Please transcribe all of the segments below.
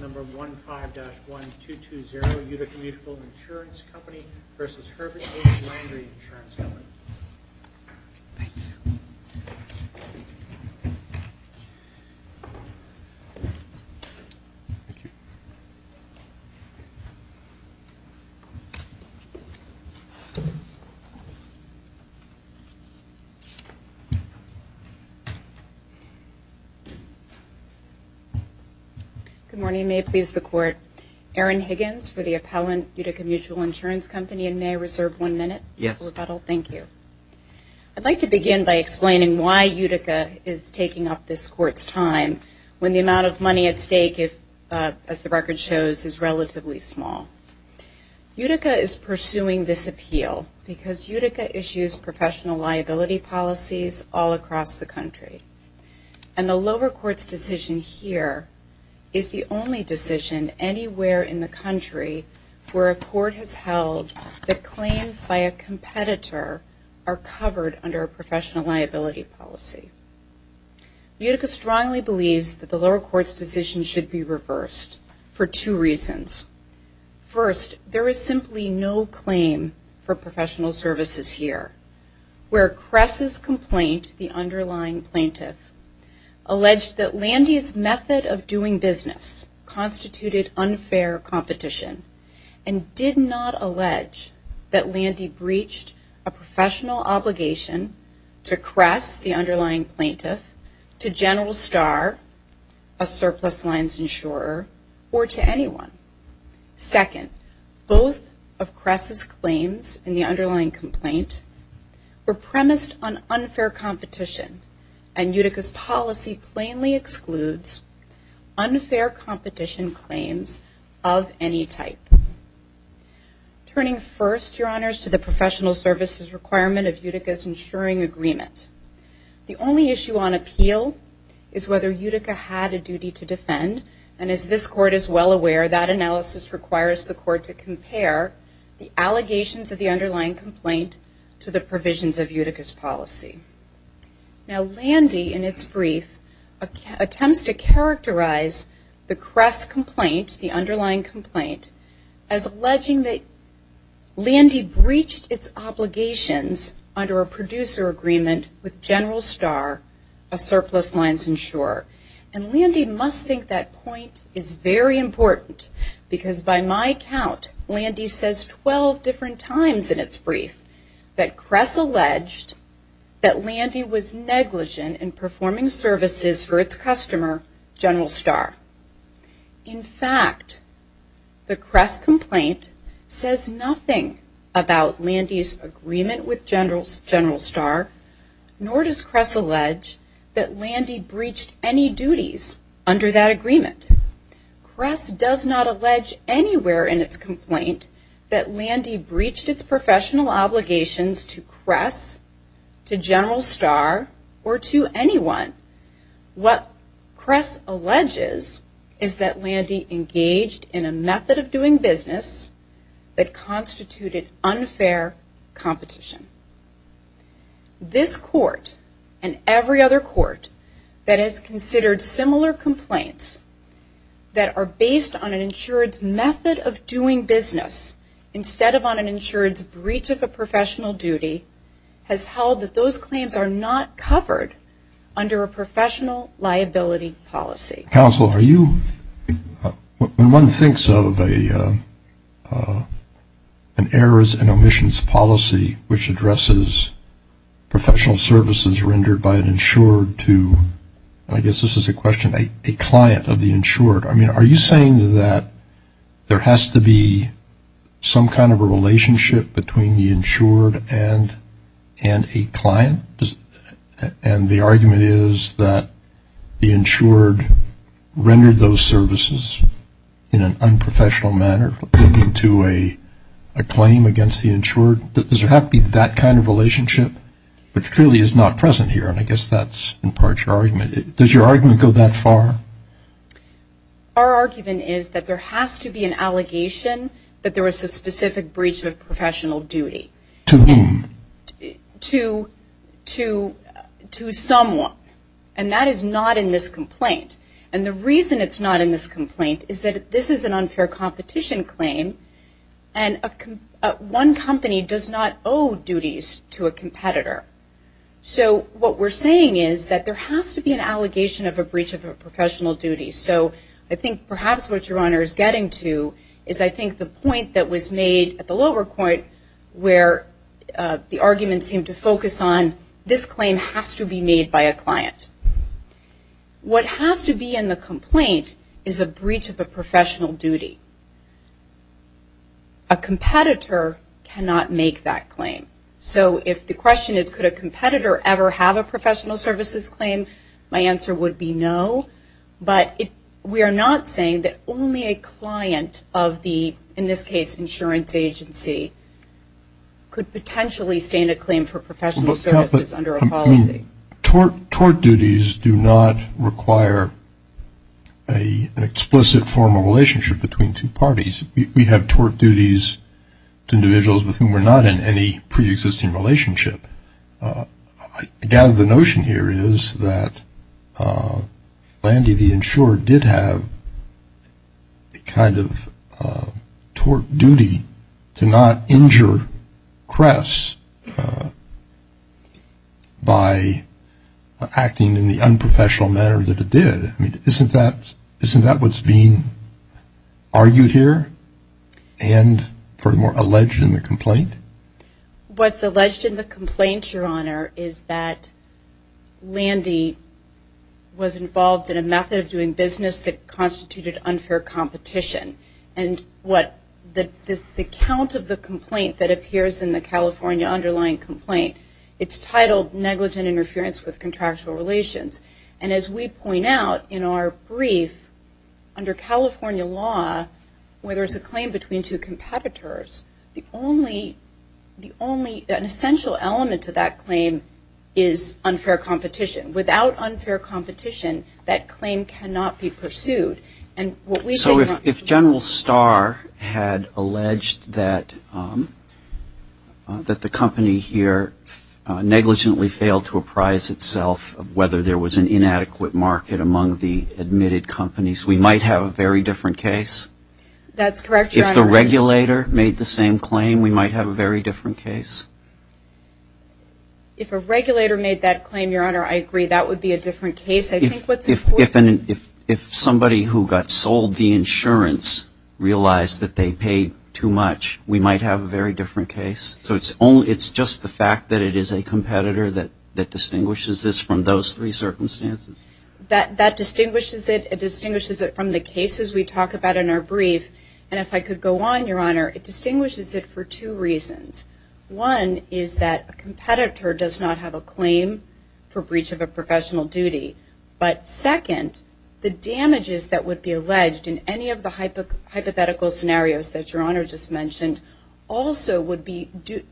Number 15-1220 Utica Mutual Insurance Company v. Herbert H. Landy Insurance Company Thank you. Good morning. May it please the Court, Erin Higgins for the appellant Utica Mutual Insurance Company and may I reserve one minute for rebuttal? Yes. I'd like to begin by explaining why Utica is taking up this Court's time when the amount of money at stake, as the record shows, is relatively small. Utica is pursuing this appeal because Utica issues professional liability policies all across the country. And the lower court's decision here is the only decision anywhere in the country where a court has held that professional liability policy. Utica strongly believes that the lower court's decision should be reversed for two reasons. First, there is simply no claim for professional services here. Where Cress' complaint, the underlying plaintiff, alleged that Landy breached a professional obligation to Cress, the underlying plaintiff, to General Starr, a surplus lines insurer, or to anyone. Second, both of Cress' claims in the underlying complaint were premised on unfair competition and Utica's policy plainly requirement of Utica's insuring agreement. The only issue on appeal is whether Utica had a duty to defend. And as this court is well aware, that analysis requires the court to compare the allegations of the underlying complaint to the provisions of Utica's policy. Now Landy, in its brief, attempts to characterize the Cress complaint, the underlying complaint, as alleging that Landy breached its obligations under a producer agreement with General Starr, a surplus lines insurer. And Landy must think that point is very important because by my count, Landy says 12 different times in its brief that Cress alleged that Landy was negligent in agreement with General Starr, nor does Cress allege that Landy breached any duties under that agreement. Cress does not allege anywhere in its complaint that Landy breached its professional obligations to Cress, to General Starr, or to anyone. What Cress alleges is that Landy engaged in a method of doing business that constituted unfair competition. This court and every other court that has considered similar complaints that are based on an insured's method of doing business instead of on an insured's breach of a policy. Counsel, are you, when one thinks of an errors and omissions policy which addresses professional services rendered by an insured to, I guess this is a question, a client of the insured, I mean, are you saying that there has to be some kind of a relationship between the insured and a client? And the argument is that the insured rendered those services in an unprofessional manner into a claim against the insured? Does there have to be that kind of relationship? Which clearly is not present here, and I guess that's in part your argument. Does your argument go that far? Our argument is that there has to be an allegation that there was a specific breach of a professional duty. To whom? To someone. And that is not in this complaint. And the reason it's not in this complaint is that this is an unfair competition claim, and one company does not owe duties to a competitor. So what we're saying is that there has to be an allegation of a professional duty. So I think perhaps what your Honor is getting to is I think the point that was made at the lower point where the argument seemed to focus on this claim has to be made by a client. What has to be in the complaint is a breach of a professional duty. A competitor cannot make that claim. So if the question is could a competitor ever have a professional services claim, my answer would be no. But we are not saying that only a client of the, in this case, insurance agency could potentially stand a claim for professional services under a policy. Tort duties do not require an explicit form of relationship between two parties. We have tort duties to individuals with whom we're not in relationship. I gather the notion here is that Landy, the insurer, did have a kind of tort duty to not injure Cress by acting in the unprofessional manner that it did. Isn't that what's being argued here and furthermore alleged in the complaint? What's alleged in the complaint, your Honor, is that Landy was involved in a method of doing business that constituted unfair competition. And what the count of the complaint that appears in the brief under California law where there's a claim between two competitors, the only, an essential element to that claim is unfair competition. Without unfair competition, that claim cannot be pursued. So if General Starr had alleged that the company here negligently failed to apprise itself of whether there was an inadequate market among the admitted companies, we might have a very different case. That's correct, your Honor. If the regulator made the same claim, we might have a very different case. If a regulator made that claim, your Honor, I agree, that would be a different case. I think what's important... If somebody who got sold the insurance realized that they paid too much, we might have a very different case. So it's just the fact that it is a competitor that distinguishes this from those three circumstances? That distinguishes it. It distinguishes it from the cases we talk about in our brief. And if I could go on, your Honor, it distinguishes it for two reasons. One is that a competitor does not have a claim for breach of a professional duty. But second, the damages that would be alleged in any of the hypothetical scenarios that your Honor just mentioned also would be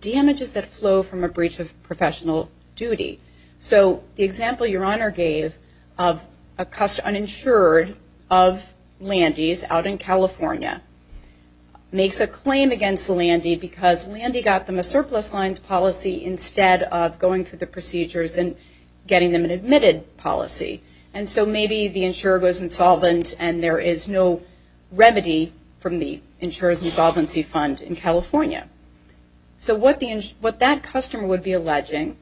damages that flow from a breach of professional duty. So the example your Honor gave of an insured of Landy's out in California makes a claim against Landy because Landy got them a surplus lines policy instead of going through the procedures and getting them an admitted policy. And so maybe the insurer goes insolvent and there is no remedy from the insurer's insolvency fund in California. So what that customer would be alleging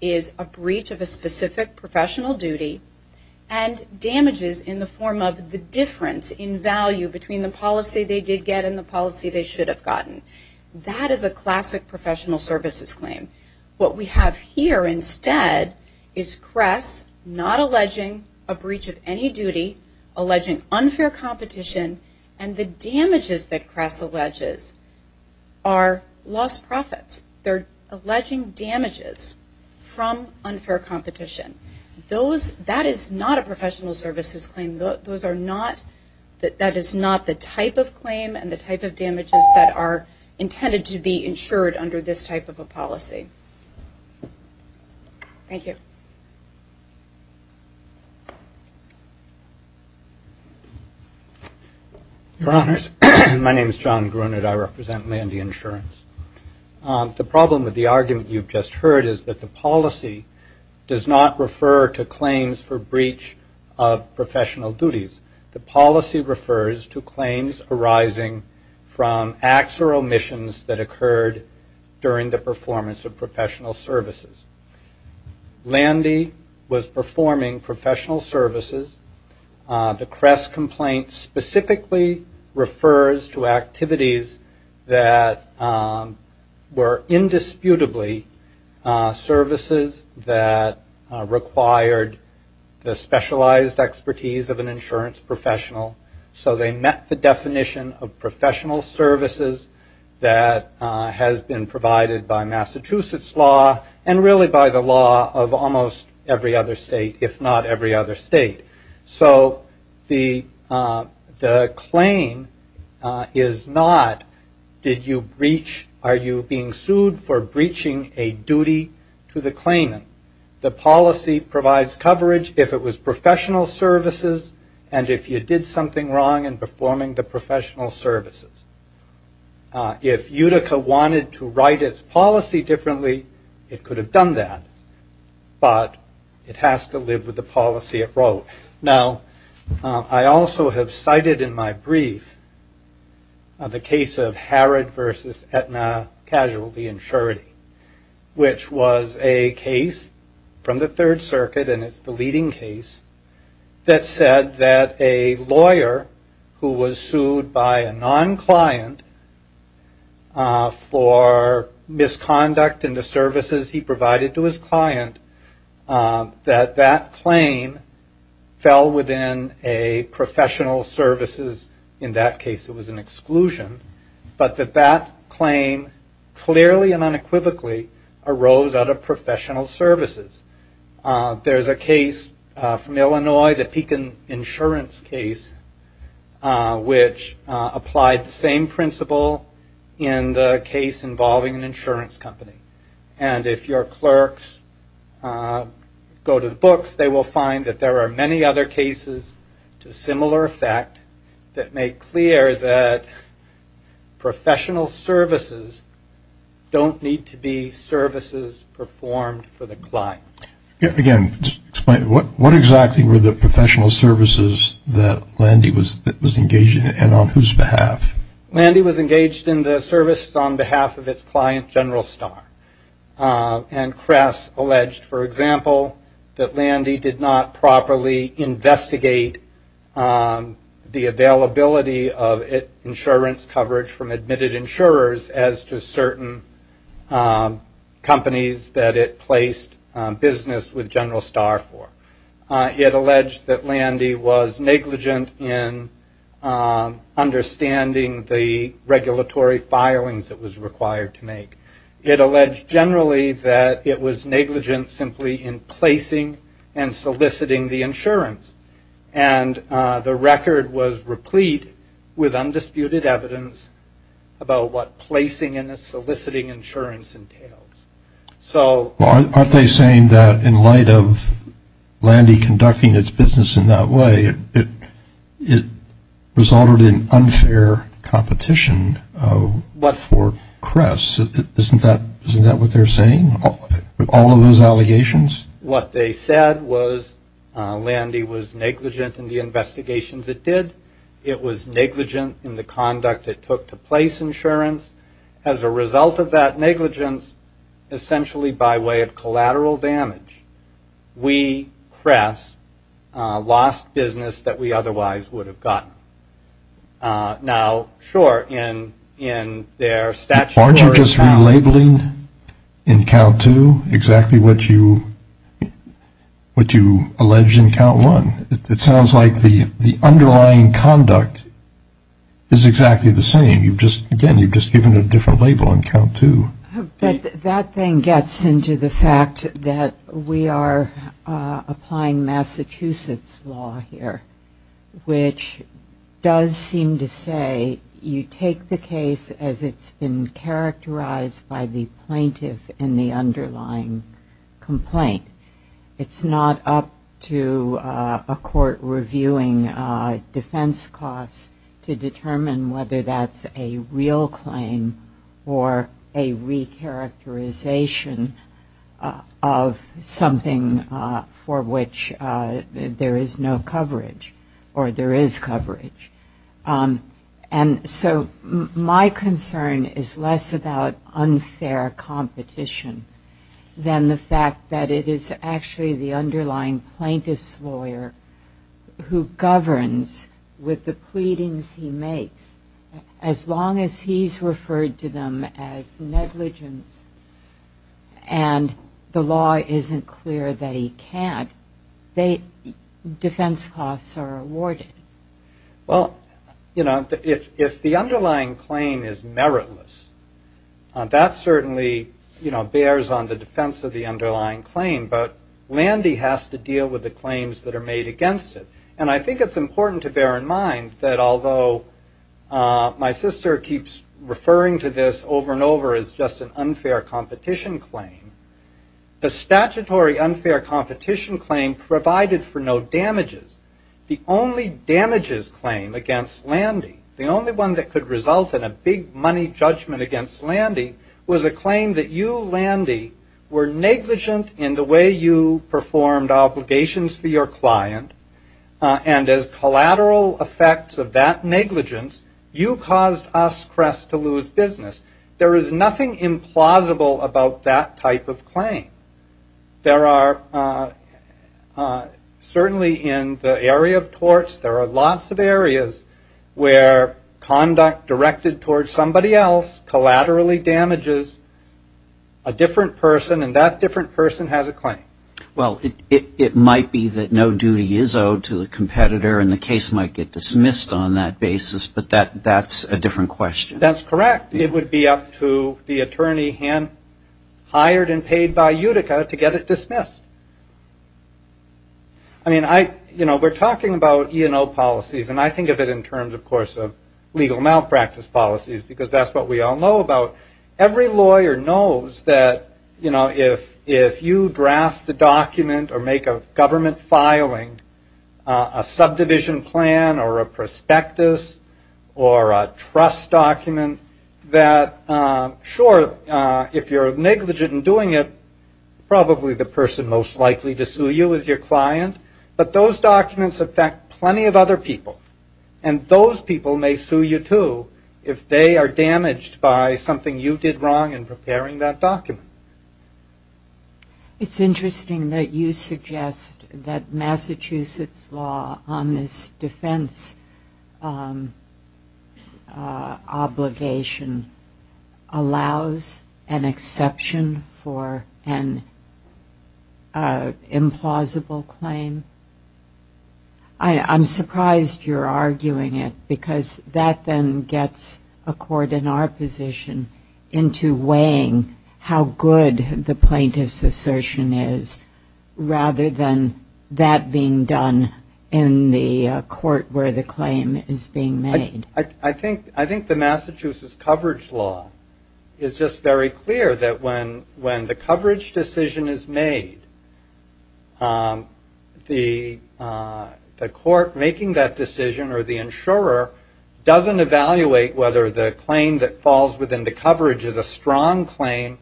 is a breach of a specific professional duty and damages in the form of the difference in value between the policy they did get and the policy they should have gotten. That is a classic professional services claim. What we have here instead is Cress not alleging a breach of any duty, alleging unfair competition, and the damages that Cress alleges are lost profits. They are alleging damages from unfair competition. That is not a intended to be insured under this type of a policy. Thank you. Your Honors, my name is John Grunert. I represent Landy Insurance. The problem with the argument you just heard is that the policy does not refer to claims for breach of professional duties. The policy refers to claims arising from acts or omissions that occurred during the performance of professional services. Landy was performing professional services. The Cress complaint specifically refers to activities that were indisputably services that required the specialized expertise of an insurance professional. So they met the has been provided by Massachusetts law and really by the law of almost every other state, if not every other state. So the claim is not did you breach, are you being sued for breaching a duty to the claimant. The policy provides coverage if it was professional services and if you did something wrong in If Utica wanted to write its policy differently, it could have done that. But it has to live with the policy it wrote. Now, I also have cited in my brief the case of Harrod v. Aetna Casualty Insurity, which was a case from the Third Circuit and it's the leading case that said that a lawyer who was sued by a exclusion, but that that claim clearly and unequivocally arose out of professional services. There's a case from Illinois, the Pekin Insurance case, which applied the same principle in the case involving an insurance company. And if your clerks go to the books, they will find that there are many other cases to similar effect that make clear that professional services don't need to be services performed for the client. Again, what exactly were the professional services that Landy was engaged in and on whose behalf? Landy was engaged in the services on behalf of its client, General Starr. And Cress alleged, for example, that Landy did not properly investigate the availability of insurance coverage from admitted insurers as to certain companies that it placed business with General Starr for. It alleged that Landy was negligent in understanding the regulatory filings that was required to make. It alleged generally that it was negligent simply in placing and soliciting the insurance. And the record was replete with undisputed evidence about what placing and soliciting insurance entails. Aren't they saying that in light of Landy conducting its business in that way, it resulted in unfair competition for Cress? Isn't that what they're saying? With all of those allegations? What they said was Landy was negligent in the investigations it did. It was negligent in the conduct it took to place insurance. As a result of that essentially by way of collateral damage, we, Cress, lost business that we otherwise would have gotten. Now, sure, in their statute of Aren't you just relabeling in count two exactly what you alleged in count one? It sounds like the underlying conduct is exactly the same. Again, you've just given a different label in count two. That then gets into the fact that we are applying Massachusetts law here, which does seem to say you take the case as it's been characterized by the recharacterization of something for which there is no coverage or there is coverage. And so my concern is less about unfair competition than the fact that it is actually the underlying plaintiff's lawyer who governs with the pleadings he makes. As long as he's referred to them as negligence and the law isn't clear that he can't, defense costs are awarded. Well, you know, if the underlying claim is meritless, that certainly, you know, bears on the defense of the underlying claim. But Landy has to deal with the claims that are made against it. And I think it's important to bear in mind that although my sister keeps referring to this over and over as just an unfair competition claim, the statutory unfair competition claim provided for no damages. The only damages claim against Landy, the only one that could result in a big money judgment against Landy, was a claim that you, Landy, were negligent in the way you performed obligations for your client. And as collateral effects of that negligence, you caused us, Crest, to lose business. There is nothing implausible about that type of claim. There are certainly in the area of torts, there are lots of areas where conduct directed towards somebody else collaterally damages a different person and that different person has a claim. Well, it might be that no duty is owed to the competitor and the case might get dismissed on that basis, but that's a different question. That's correct. It would be up to the attorney hired and paid by Utica to get it dismissed. I mean, you know, we're talking about E&O policies and I think of it in legal malpractice policies because that's what we all know about. Every lawyer knows that, you know, if you draft the document or make a government filing, a subdivision plan or a prospectus or a trust document that, sure, if you're negligent in doing it, probably the person most likely to sue you is your client, but those people may sue you, too, if they are damaged by something you did wrong in preparing that document. It's interesting that you suggest that Massachusetts law on this defense obligation allows an exception for an implausible claim. I'm surprised you're that then gets a court in our position into weighing how good the plaintiff's assertion is rather than that being done in the court where the claim is being made. I think the Massachusetts coverage law is just very clear that when the coverage decision is made, the court making that decision or the insurer doesn't evaluate whether the claim that falls within the coverage is a strong claim.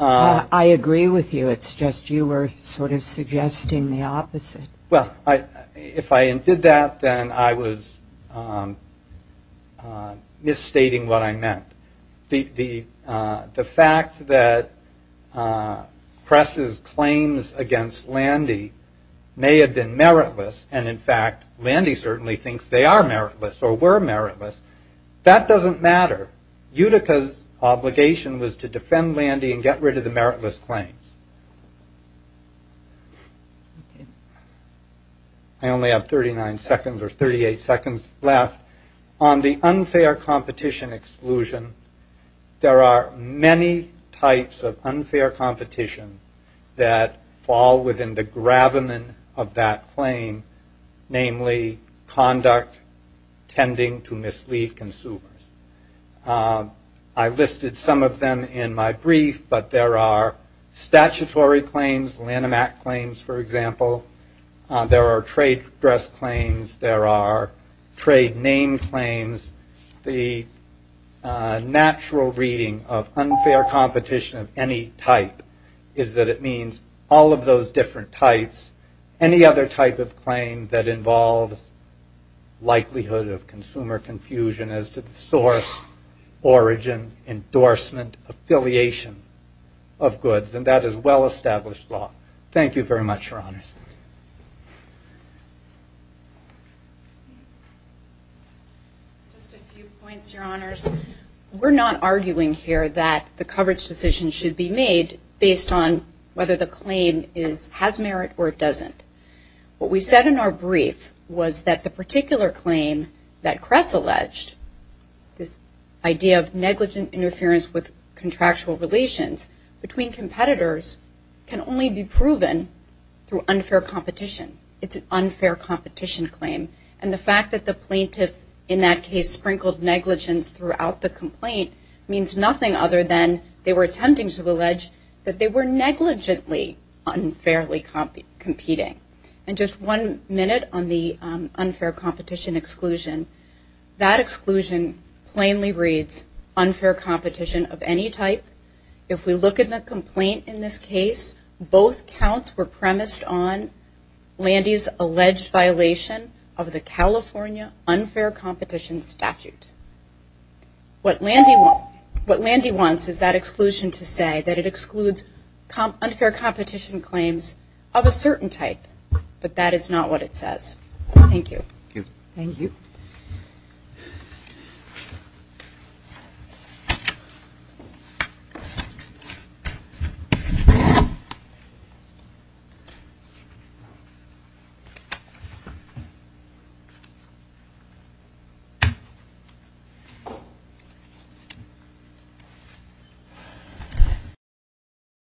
I agree with you. It's just you were sort of suggesting the opposite. Well, if I did that, then I was misstating what I meant. The fact that Press's claims against Landy may have been meritless, and in fact, Landy certainly thinks they are meritless or were meritless, that doesn't matter. Utica's obligation was to defend Landy and get rid of the meritless claims. I only have 39 seconds or 38 seconds left. On the unfair competition exclusion, there are many types of unfair competition that fall within the Lanham Act claim, namely conduct tending to mislead consumers. I listed some of them in my brief, but there are statutory claims, Lanham Act claims, for example. There are trade dress claims. There are trade name claims. The natural reading of unfair competition of any type is that it means all of those different types, any other type of claim that involves likelihood of consumer confusion as to the source, origin, endorsement, affiliation of goods, and that is well-established law. Thank you very much, Your Honors. Just a few points, Your Honors. We're not arguing here that the coverage decision should be made based on whether the claim has merit or it doesn't. What we said in our brief was that the particular claim that Press alleged, this idea of negligent interference with contractual relations between competitors, can only be proven through unfair competition. It's an unfair competition claim. And the fact that the plaintiff in that case sprinkled negligence throughout the complaint means nothing other than they were attempting to allege that they were negligently unfairly competing. And just one minute on the unfair competition exclusion, that exclusion plainly reads unfair competition of any type. If we look at the complaint in this case, both counts were premised on Landy's alleged violation of the California unfair competition statute. What Landy wants is that exclusion to say that it excludes unfair competition claims of a certain type, but that is not what it says. Thank you.